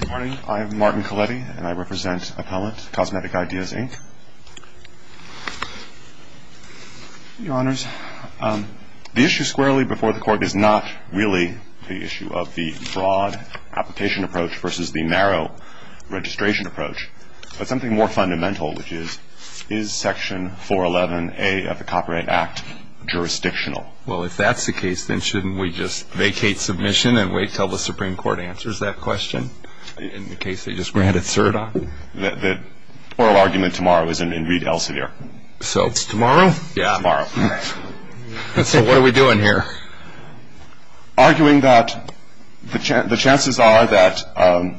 Good morning. I'm Martin Colletti, and I represent Appellant, Cosmetic Ideas, Inc. Your Honors, the issue squarely before the Court is not really the issue of the broad application approach versus the narrow registration approach, but something more fundamental, which is, is Section 411A of the Copyright Act jurisdictional? Well, if that's the case, then shouldn't we just vacate submission and wait until the Supreme Court answers that question, in the case they just granted cert on? The oral argument tomorrow is in Reed Elsevier. Tomorrow? Tomorrow. So what are we doing here? Arguing that the chances are that,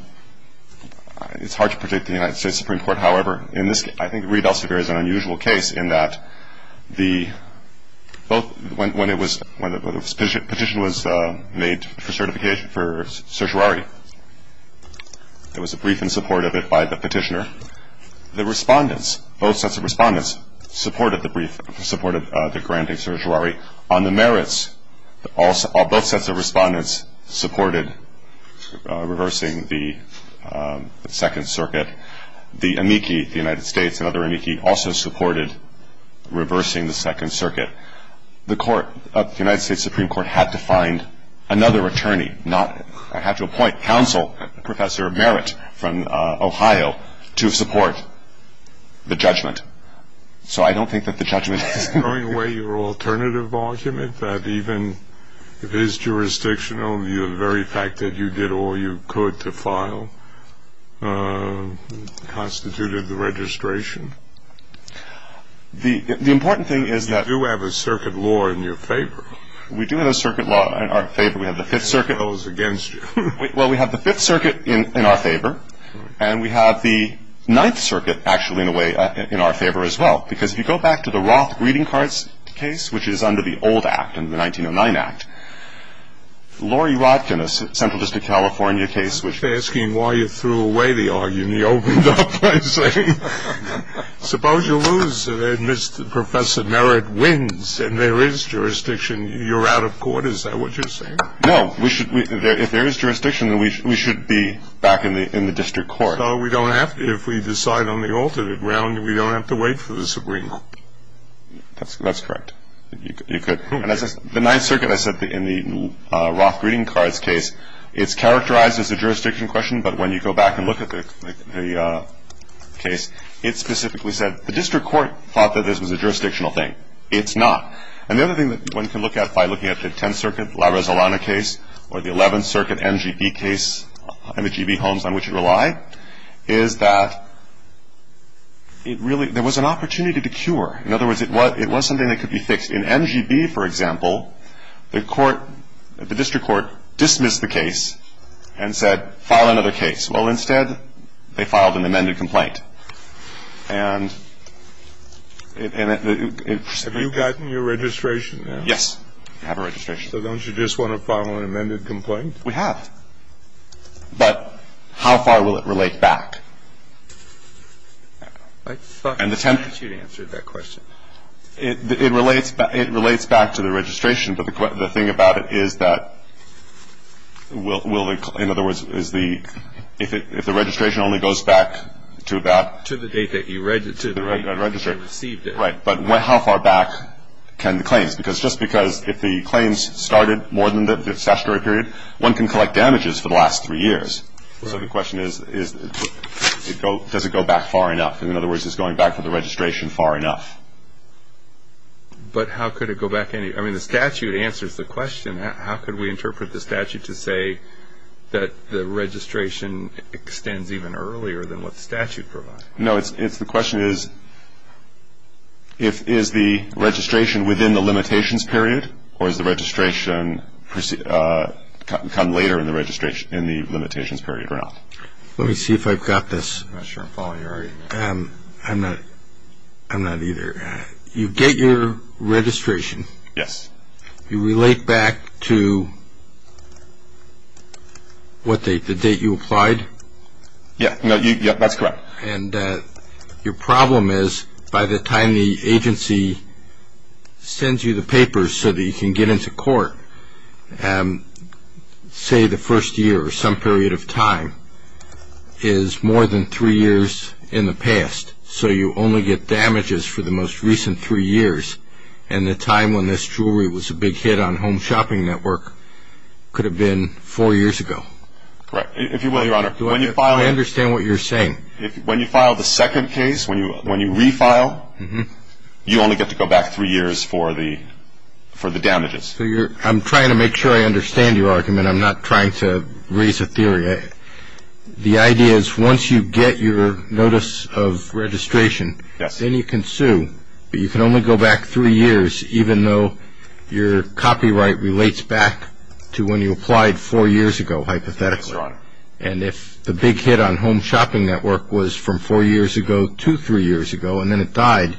it's hard to predict the United States Supreme Court, however, in this case, I think Reed Elsevier is an unusual case in that the, both, when it was, when the petition was made for certification for certiorari, there was a brief in support of it by the petitioner. The respondents, both sets of respondents, supported the brief, supported the granting certiorari. On the merits, both sets of respondents supported reversing the Second Circuit. The amici, the United States and other amici, also supported reversing the Second Circuit. The court, the United States Supreme Court had to find another attorney, not, had to appoint counsel, Professor Merritt from Ohio, to support the judgment. So I don't think that the judgment is. Throwing away your alternative argument that even if it is jurisdictional, the very fact that you did all you could to file constituted the registration? The important thing is that. You do have a circuit law in your favor. We do have a circuit law in our favor. We have the Fifth Circuit. What goes against you? Well, we have the Fifth Circuit in our favor. And we have the Ninth Circuit, actually, in a way, in our favor as well. Because if you go back to the Roth greeting cards case, which is under the old act, the 1909 act, Lori Rodkin, a central district California case, which. I'm not asking why you threw away the argument. You opened up by saying, suppose you lose, and Professor Merritt wins, and there is jurisdiction. You're out of court. Is that what you're saying? No. If there is jurisdiction, then we should be back in the district court. We don't have to. If we decide on the alternate ground, we don't have to wait for this agreement. That's correct. You could. And as I said, the Ninth Circuit, I said, in the Roth greeting cards case, it's characterized as a jurisdiction question. But when you go back and look at the case, it specifically said, the district court thought that this was a jurisdictional thing. It's not. And the other thing that one can look at by looking at the Tenth Circuit, La Resolana case, or the Eleventh Circuit, NGB case, and the GB homes on which it relied, is that it really – there was an opportunity to cure. In other words, it was something that could be fixed. In NGB, for example, the court – the district court dismissed the case and said, file another case. Well, instead, they filed an amended complaint. And it – Have you gotten your registration now? Yes, I have a registration. So don't you just want to file an amended complaint? We have. But how far will it relate back? I thought you answered that question. It relates back to the registration. But the thing about it is that will the – in other words, is the – if the registration only goes back to that – To the date that you registered. Right. But how far back can the claims? Because – just because if the claims started more than the statutory period, one can collect damages for the last three years. So the question is, does it go back far enough? In other words, is going back to the registration far enough? But how could it go back any – I mean, the statute answers the question. How could we interpret the statute to say that the registration extends even earlier than what the statute provides? No, it's – the question is, is the registration within the limitations period or does the registration come later in the limitations period or not? Let me see if I've got this. I'm not sure I'm following you already. I'm not either. You get your registration. Yes. You relate back to what date, the date you applied? Yeah, that's correct. And your problem is, by the time the agency sends you the papers so that you can get into court, say the first year or some period of time, is more than three years in the past. So you only get damages for the most recent three years. And the time when this jewelry was a big hit on Home Shopping Network could have been four years ago. Right. If you will, Your Honor, when you file it – when you file the second case, when you refile, you only get to go back three years for the damages. I'm trying to make sure I understand your argument. I'm not trying to raise a theory. The idea is once you get your notice of registration, then you can sue, but you can only go back three years even though your copyright relates back to when you applied four years ago, hypothetically. Yes, Your Honor. And if the big hit on Home Shopping Network was from four years ago to three years ago and then it died,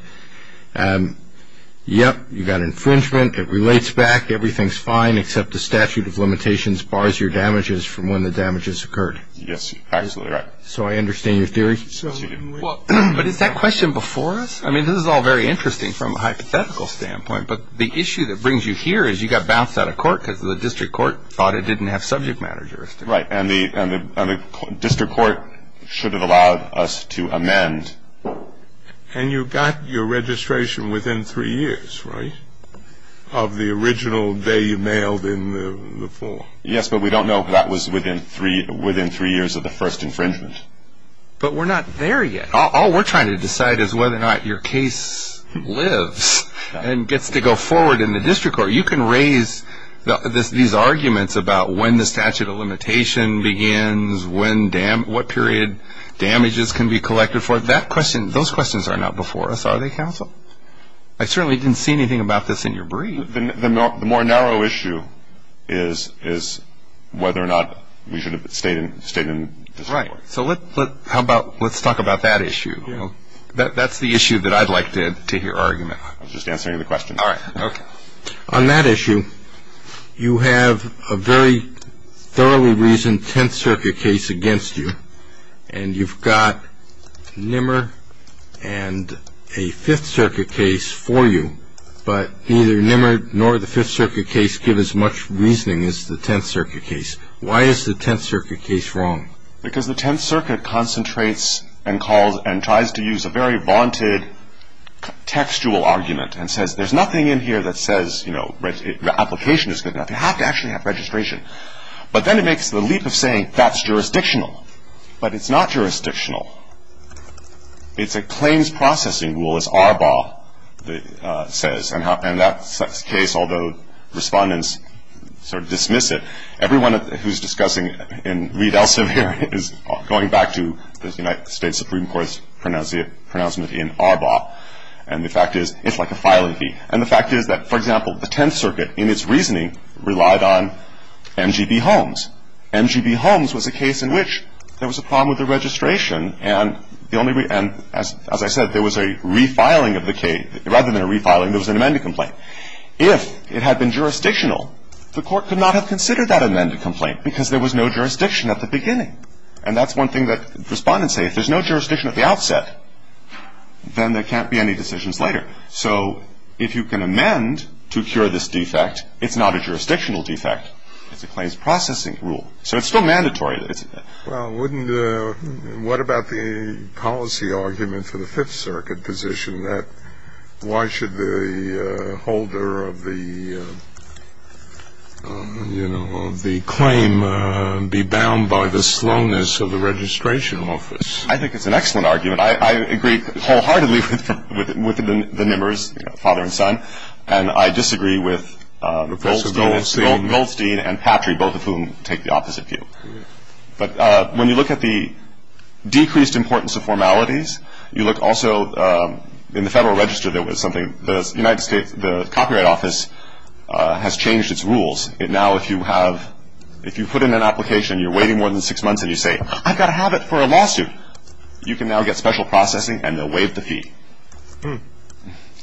yep, you've got infringement. It relates back. Everything's fine except the statute of limitations bars your damages from when the damages occurred. Yes, absolutely right. So I understand your theory? But is that question before us? I mean, this is all very interesting from a hypothetical standpoint, but the issue that brings you here is you got bounced out of court because the district court thought it didn't have subject matter jurisdiction. Right, and the district court should have allowed us to amend. And you got your registration within three years, right, of the original day you mailed in the form? Yes, but we don't know if that was within three years of the first infringement. But we're not there yet. All we're trying to decide is whether or not your case lives and gets to go forward in the district court. You can raise these arguments about when the statute of limitation begins, what period damages can be collected for. Those questions are not before us, are they, counsel? I certainly didn't see anything about this in your brief. The more narrow issue is whether or not we should have stayed in the district court. Right. So let's talk about that issue. That's the issue that I'd like to hear argument on. I was just answering the question. All right. On that issue, you have a very thoroughly reasoned Tenth Circuit case against you, and you've got Nimmer and a Fifth Circuit case for you, but neither Nimmer nor the Fifth Circuit case give as much reasoning as the Tenth Circuit case. Why is the Tenth Circuit case wrong? Because the Tenth Circuit concentrates and tries to use a very vaunted textual argument and says there's nothing in here that says the application is good enough. You have to actually have registration. But then it makes the leap of saying that's jurisdictional. But it's not jurisdictional. It's a claims processing rule, as Arbaugh says. And that case, although respondents sort of dismiss it, everyone who's discussing in Reed Elsevier is going back to the United States Supreme Court's pronouncement in Arbaugh. And the fact is it's like a filing fee. And the fact is that, for example, the Tenth Circuit, in its reasoning, relied on M.G.B. Holmes. M.G.B. Holmes was a case in which there was a problem with the registration, and as I said, there was a refiling of the case. Rather than a refiling, there was an amended complaint. If it had been jurisdictional, the court could not have considered that amended complaint because there was no jurisdiction at the beginning. And that's one thing that respondents say. If there's no jurisdiction at the outset, then there can't be any decisions later. So if you can amend to cure this defect, it's not a jurisdictional defect. It's a claims processing rule. So it's still mandatory. Well, what about the policy argument for the Fifth Circuit position that why should the holder of the claim be bound by the slowness of the registration office? I think it's an excellent argument. I agree wholeheartedly with the Nimmers, father and son, and I disagree with Goldstein and Patry, both of whom take the opposite view. But when you look at the decreased importance of formalities, you look also in the Federal Register there was something. The United States Copyright Office has changed its rules. Now if you put in an application, you're waiting more than six months, and you say, I've got to have it for a lawsuit,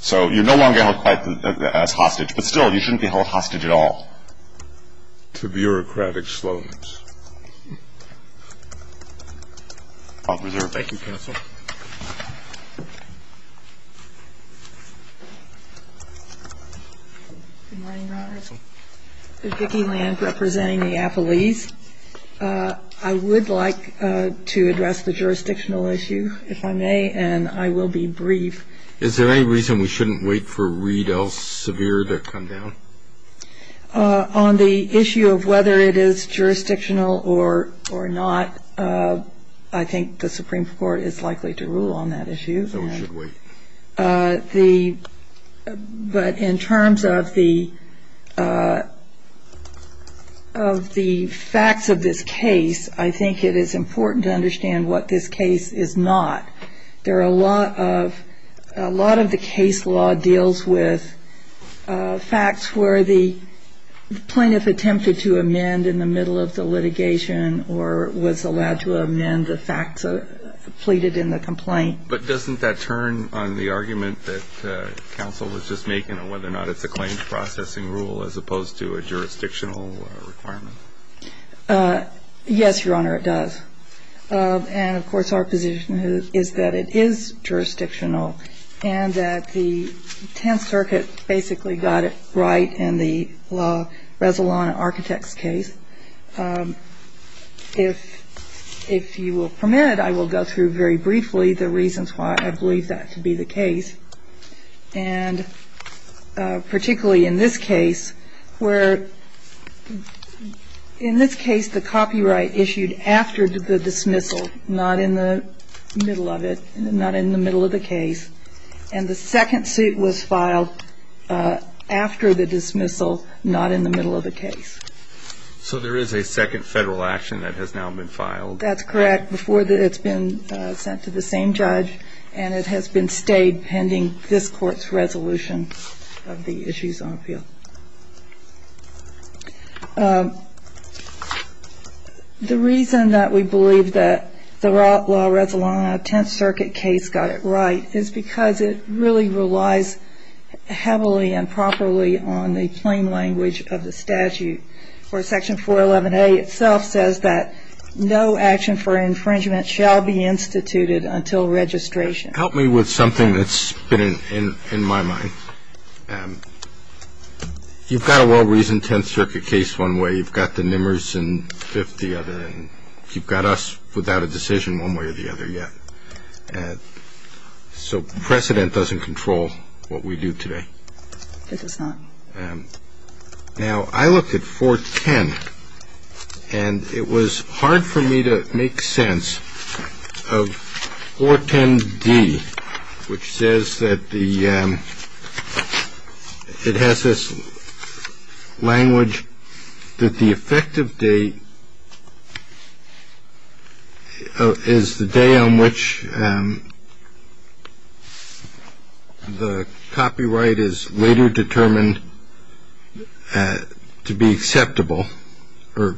So you're no longer held quite as hostage. But still, you shouldn't be held hostage at all. To bureaucratic slowness. I'll reserve. Thank you, counsel. Good morning, Your Honors. This is Vicki Land representing the affilees. I would like to address the jurisdictional issue, if I may, and I will be brief. Is there any reason we shouldn't wait for Reed L. Severe to come down? On the issue of whether it is jurisdictional or not, I think the Supreme Court is likely to rule on that issue. So we should wait. But in terms of the facts of this case, I think it is important to understand what this case is not. A lot of the case law deals with facts where the plaintiff attempted to amend in the middle of the litigation or was allowed to amend the facts pleaded in the complaint. But doesn't that turn on the argument that counsel was just making on whether or not it's a claims processing rule as opposed to a jurisdictional requirement? Yes, Your Honor, it does. And, of course, our position is that it is jurisdictional and that the Tenth Circuit basically got it right in the Resolana Architects case. So if you will permit, I will go through very briefly the reasons why I believe that to be the case. And particularly in this case, where in this case the copyright issued after the dismissal, not in the middle of it, not in the middle of the case, and the second suit was filed after the dismissal, not in the middle of the case. So there is a second Federal action that has now been filed? That's correct. Before that, it's been sent to the same judge, and it has been stayed pending this Court's resolution of the issues on appeal. The reason that we believe that the law Resolana Tenth Circuit case got it right is because it really relies heavily and properly on the plain language of the statute, where Section 411A itself says that no action for infringement shall be instituted until registration. Help me with something that's been in my mind. You've got a well-reasoned Tenth Circuit case one way. You've got the Nimmers and Fifth the other, and you've got us without a decision one way or the other yet. So precedent doesn't control what we do today. It does not. Now, I looked at 410, and it was hard for me to make sense of 410D, which says that it has this language that the effective date is the day on which the copyright is later determined to be acceptable, or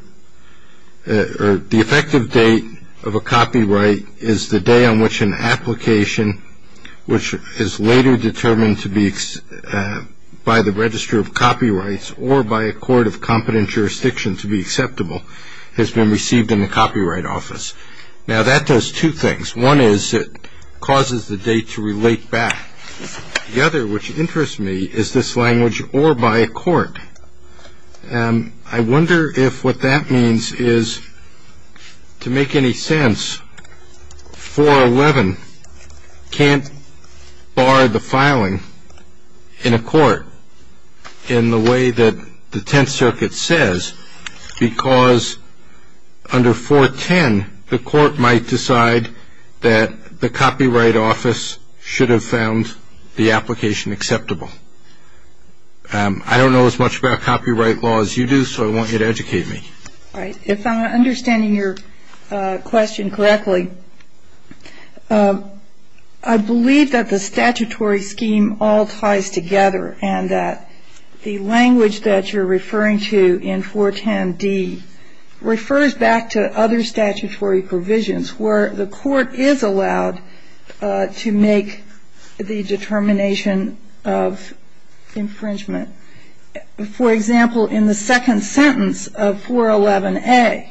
the effective date of a copyright is the day on which an application, which is later determined by the Register of Copyrights or by a court of competent jurisdiction to be acceptable, has been received in the Copyright Office. Now, that does two things. One is it causes the date to relate back. The other, which interests me, is this language, or by a court. I wonder if what that means is, to make any sense, 411 can't bar the filing in a court in the way that the Tenth Circuit says, because under 410, the court might decide that the Copyright Office should have found the application acceptable. I don't know as much about copyright law as you do, so I want you to educate me. All right. If I'm understanding your question correctly, I believe that the statutory scheme all ties together and that the language that you're referring to in 410D refers back to other statutory provisions where the court is allowed to make the determination of infringement. For example, in the second sentence of 411A,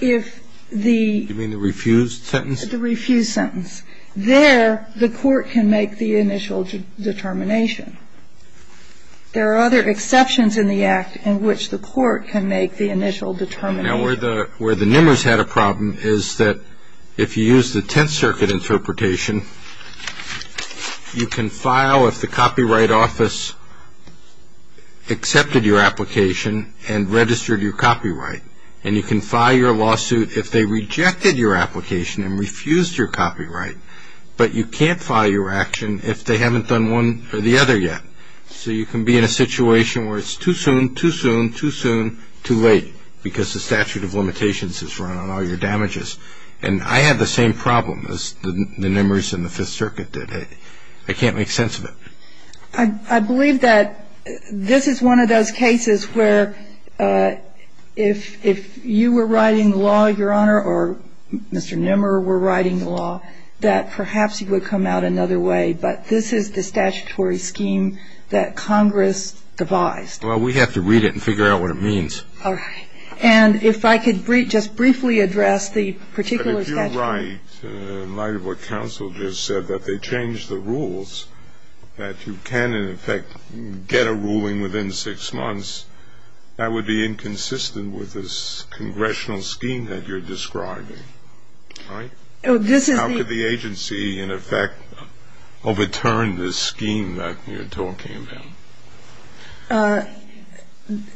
if the ---- You mean the refused sentence? The refused sentence. There, the court can make the initial determination. There are other exceptions in the Act in which the court can make the initial determination. Now, where the nimmers had a problem is that if you use the Tenth Circuit interpretation, you can file if the Copyright Office accepted your application and registered your copyright, and you can file your lawsuit if they rejected your application and refused your copyright, but you can't file your action if they haven't done one or the other yet. So you can be in a situation where it's too soon, too soon, too soon, too late because the statute of limitations is run on all your damages. And I had the same problem as the nimmers in the Fifth Circuit did. I can't make sense of it. I believe that this is one of those cases where if you were writing the law, Your Honor, or Mr. Nimmer were writing the law, that perhaps it would come out another way, but this is the statutory scheme that Congress devised. Well, we have to read it and figure out what it means. All right. And if I could just briefly address the particular statute. But if you're right in light of what counsel just said, that they changed the rules, that you can, in effect, get a ruling within six months, that would be inconsistent with this congressional scheme that you're describing, right? How could the agency, in effect, overturn this scheme that you're talking about?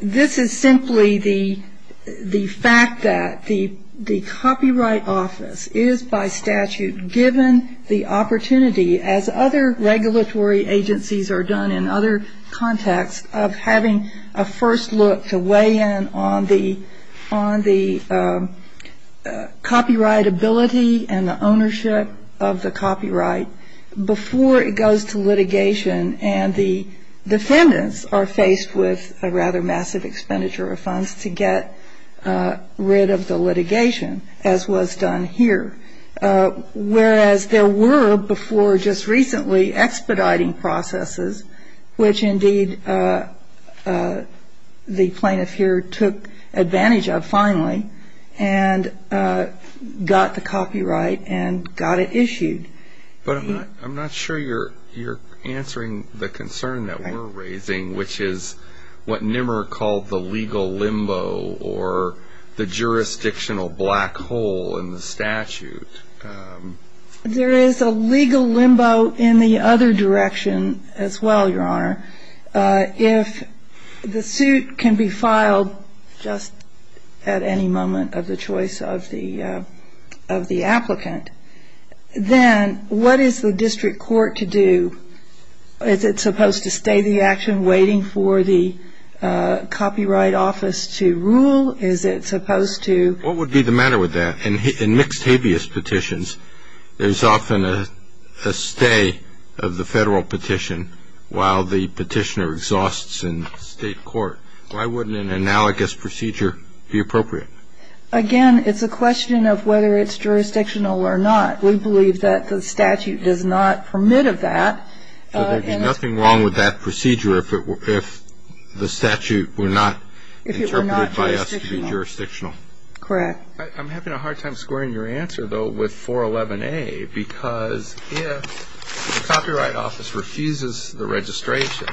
This is simply the fact that the Copyright Office is, by statute, given the opportunity, as other regulatory agencies are done in other contexts, of having a first look to weigh in on the copyrightability and the ownership of the copyright before it goes to litigation. And the defendants are faced with a rather massive expenditure of funds to get rid of the litigation, as was done here. Whereas there were, before just recently, expediting processes, which indeed the plaintiff here took advantage of, finally, and got the copyright and got it issued. But I'm not sure you're answering the concern that we're raising, which is what Nimmerer called the legal limbo or the jurisdictional black hole in the statute. There is a legal limbo in the other direction as well, Your Honor. If the suit can be filed just at any moment of the choice of the applicant, then what is the district court to do? Is it supposed to stay the action waiting for the Copyright Office to rule? Is it supposed to? What would be the matter with that? In mixed habeas petitions, there's often a stay of the federal petition while the petitioner exhausts in state court. Why wouldn't an analogous procedure be appropriate? Again, it's a question of whether it's jurisdictional or not. We believe that the statute does not permit of that. So there'd be nothing wrong with that procedure if the statute were not interpreted by us to be jurisdictional. Correct. I'm having a hard time squaring your answer, though, with 411A, because if the Copyright Office refuses the registration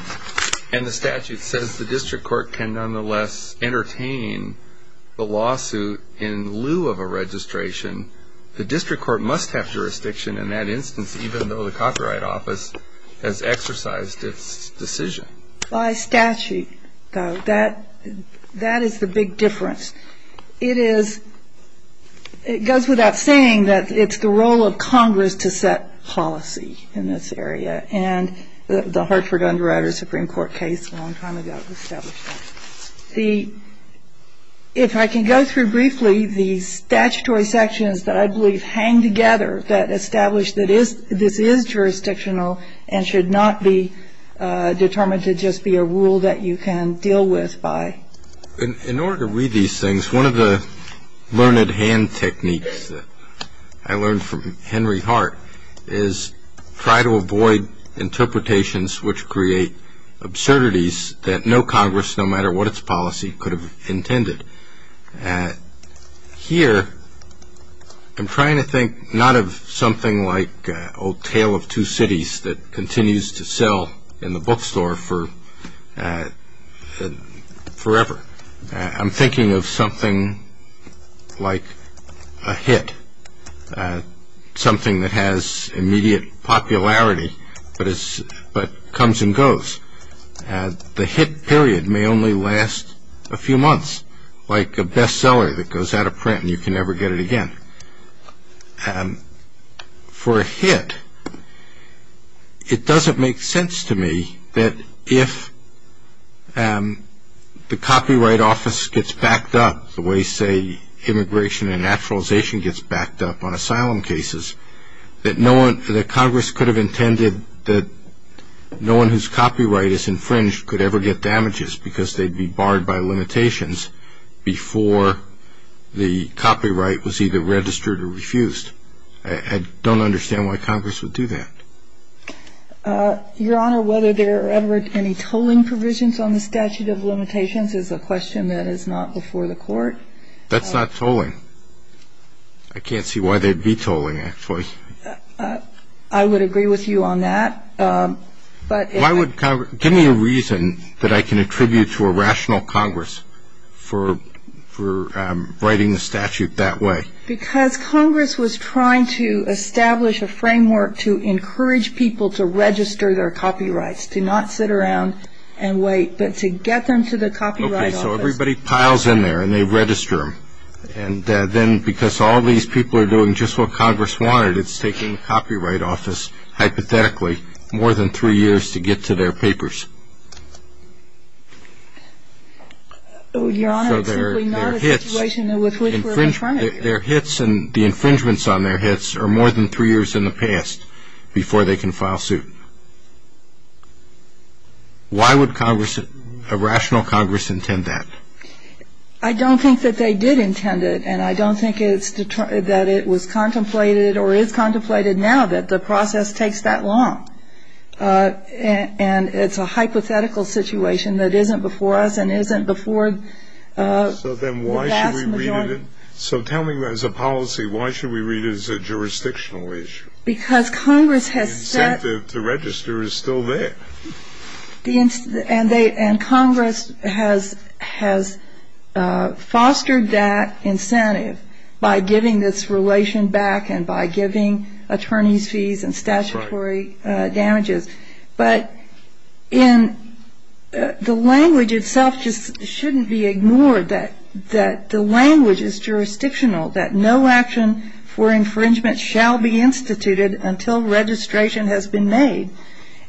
and the statute says the district court can nonetheless entertain the lawsuit in lieu of a registration, the district court must have jurisdiction in that instance, even though the Copyright Office has exercised its decision. By statute, though, that is the big difference. It goes without saying that it's the role of Congress to set policy in this area, and the Hartford Underwriters Supreme Court case a long time ago established that. If I can go through briefly the statutory sections that I believe hang together that establish that this is jurisdictional and should not be determined to just be a rule that you can deal with by. In order to read these things, one of the learned hand techniques that I learned from Henry Hart is try to avoid interpretations which create absurdities that no Congress, no matter what its policy, could have intended. Here I'm trying to think not of something like Old Tale of Two Cities that continues to sell in the bookstore forever. I'm thinking of something like a hit, something that has immediate popularity but comes and goes. The hit period may only last a few months, like a bestseller that goes out of print and you can never get it again. For a hit, it doesn't make sense to me that if the Copyright Office gets backed up the way, say, immigration and naturalization gets backed up on asylum cases, that Congress could have intended that no one whose copyright is infringed could ever get damages because they'd be barred by limitations before the copyright was either registered or refused. I don't understand why Congress would do that. Your Honor, whether there are ever any tolling provisions on the statute of limitations is a question that is not before the Court. That's not tolling. I can't see why they'd be tolling, actually. I would agree with you on that. Give me a reason that I can attribute to a rational Congress for writing the statute that way. Because Congress was trying to establish a framework to encourage people to register their copyrights, to not sit around and wait, but to get them to the Copyright Office. Okay, so everybody piles in there and they register them. And then because all these people are doing just what Congress wanted, it's taking the Copyright Office, hypothetically, more than three years to get to their papers. Your Honor, it's simply not a situation with which we're confronted. The infringements on their hits are more than three years in the past before they can file suit. Why would a rational Congress intend that? I don't think that they did intend it, and I don't think that it was contemplated or is contemplated now that the process takes that long. And it's a hypothetical situation that isn't before us and isn't before the vast majority. So then why should we read it as a policy? Why should we read it as a jurisdictional issue? Because Congress has set... The incentive to register is still there. And Congress has fostered that incentive by giving this relation back and by giving attorneys fees and statutory damages. But the language itself just shouldn't be ignored, that the language is jurisdictional, that no action for infringement shall be instituted until registration has been made.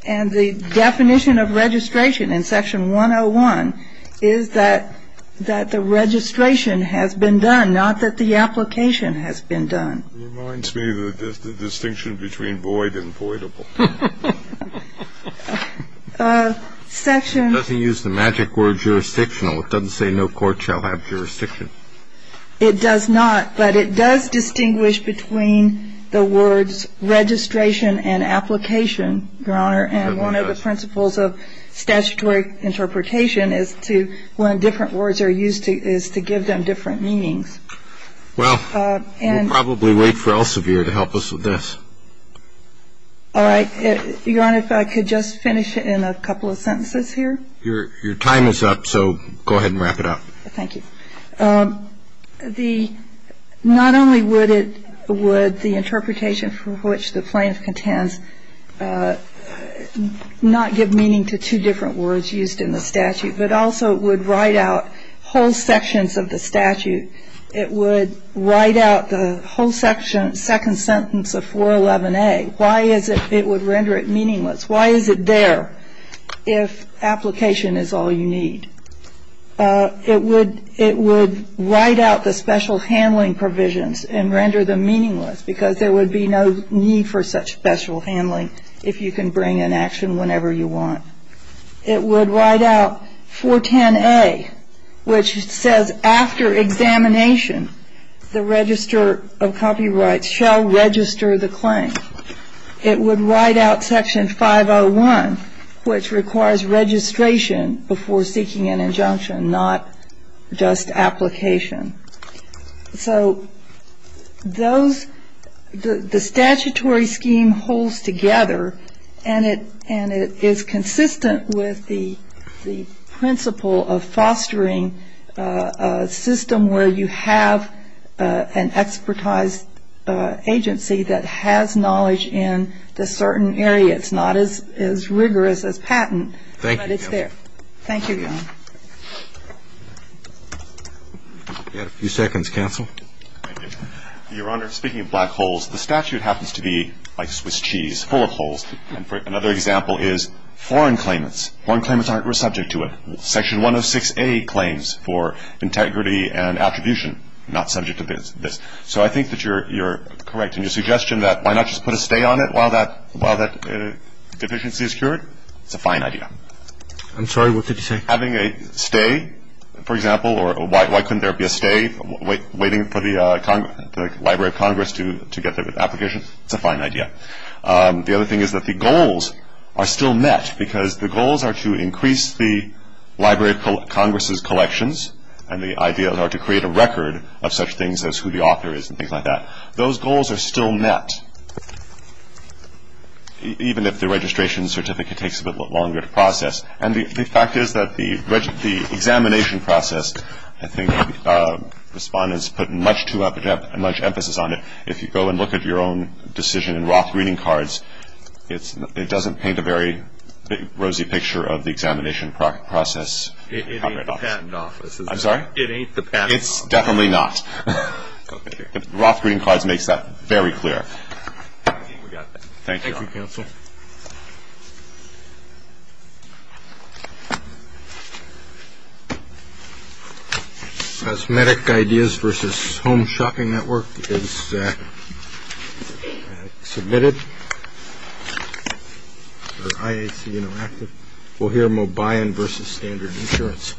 And the definition of registration in Section 101 is that the registration has been done, not that the application has been done. It reminds me of the distinction between void and voidable. Section... It doesn't use the magic word jurisdictional. It doesn't say no court shall have jurisdiction. It does not. But it does distinguish between the words registration and application, Your Honor. It does. And one of the principles of statutory interpretation is to when different words are used is to give them different meanings. Well, we'll probably wait for Elsevier to help us with this. All right. Your Honor, if I could just finish in a couple of sentences here. Your time is up, so go ahead and wrap it up. Thank you. The not only would it, would the interpretation for which the plaintiff contends not give meaning to two different words used in the statute, but also it would write out whole sections of the statute. It would write out the whole section, second sentence of 411A. Why is it it would render it meaningless? Why is it there if application is all you need? It would write out the special handling provisions and render them meaningless because there would be no need for such special handling if you can bring an action whenever you want. It would write out 410A, which says after examination, the register of copyrights shall register the claim. It would write out Section 501, which requires registration before seeking an injunction, not just application. So those, the statutory scheme holds together, and it is consistent with the principle of fostering a system where you have an expertized agency that has knowledge in the certain area. It's not as rigorous as patent, but it's there. Thank you, Your Honor. We have a few seconds, counsel. Thank you. Your Honor, speaking of black holes, the statute happens to be like Swiss cheese, full of holes. And another example is foreign claimants. Foreign claimants aren't subject to it. Section 106A claims for integrity and attribution, not subject to this. So I think that you're correct in your suggestion that why not just put a stay on it while that deficiency is cured? It's a fine idea. I'm sorry. What did you say? Having a stay, for example, or why couldn't there be a stay waiting for the Library of Congress to get the application? It's a fine idea. The other thing is that the goals are still met, because the goals are to increase the Library of Congress's collections, and the ideas are to create a record of such things as who the author is and things like that. Those goals are still met, even if the registration certificate takes a bit longer to process. And the fact is that the examination process, I think the Respondent has put much emphasis on it. If you go and look at your own decision in Roth Reading Cards, it doesn't paint a very rosy picture of the examination process. It ain't the Patent Office. I'm sorry? It ain't the Patent Office. It's definitely not. Roth Reading Cards makes that very clear. We got that. Thank you. Thank you, Counsel. Okay. Cosmetic Ideas v. Home Shopping Network is submitted. IAC Interactive. We'll hear Mobayan v. Standard Insurance.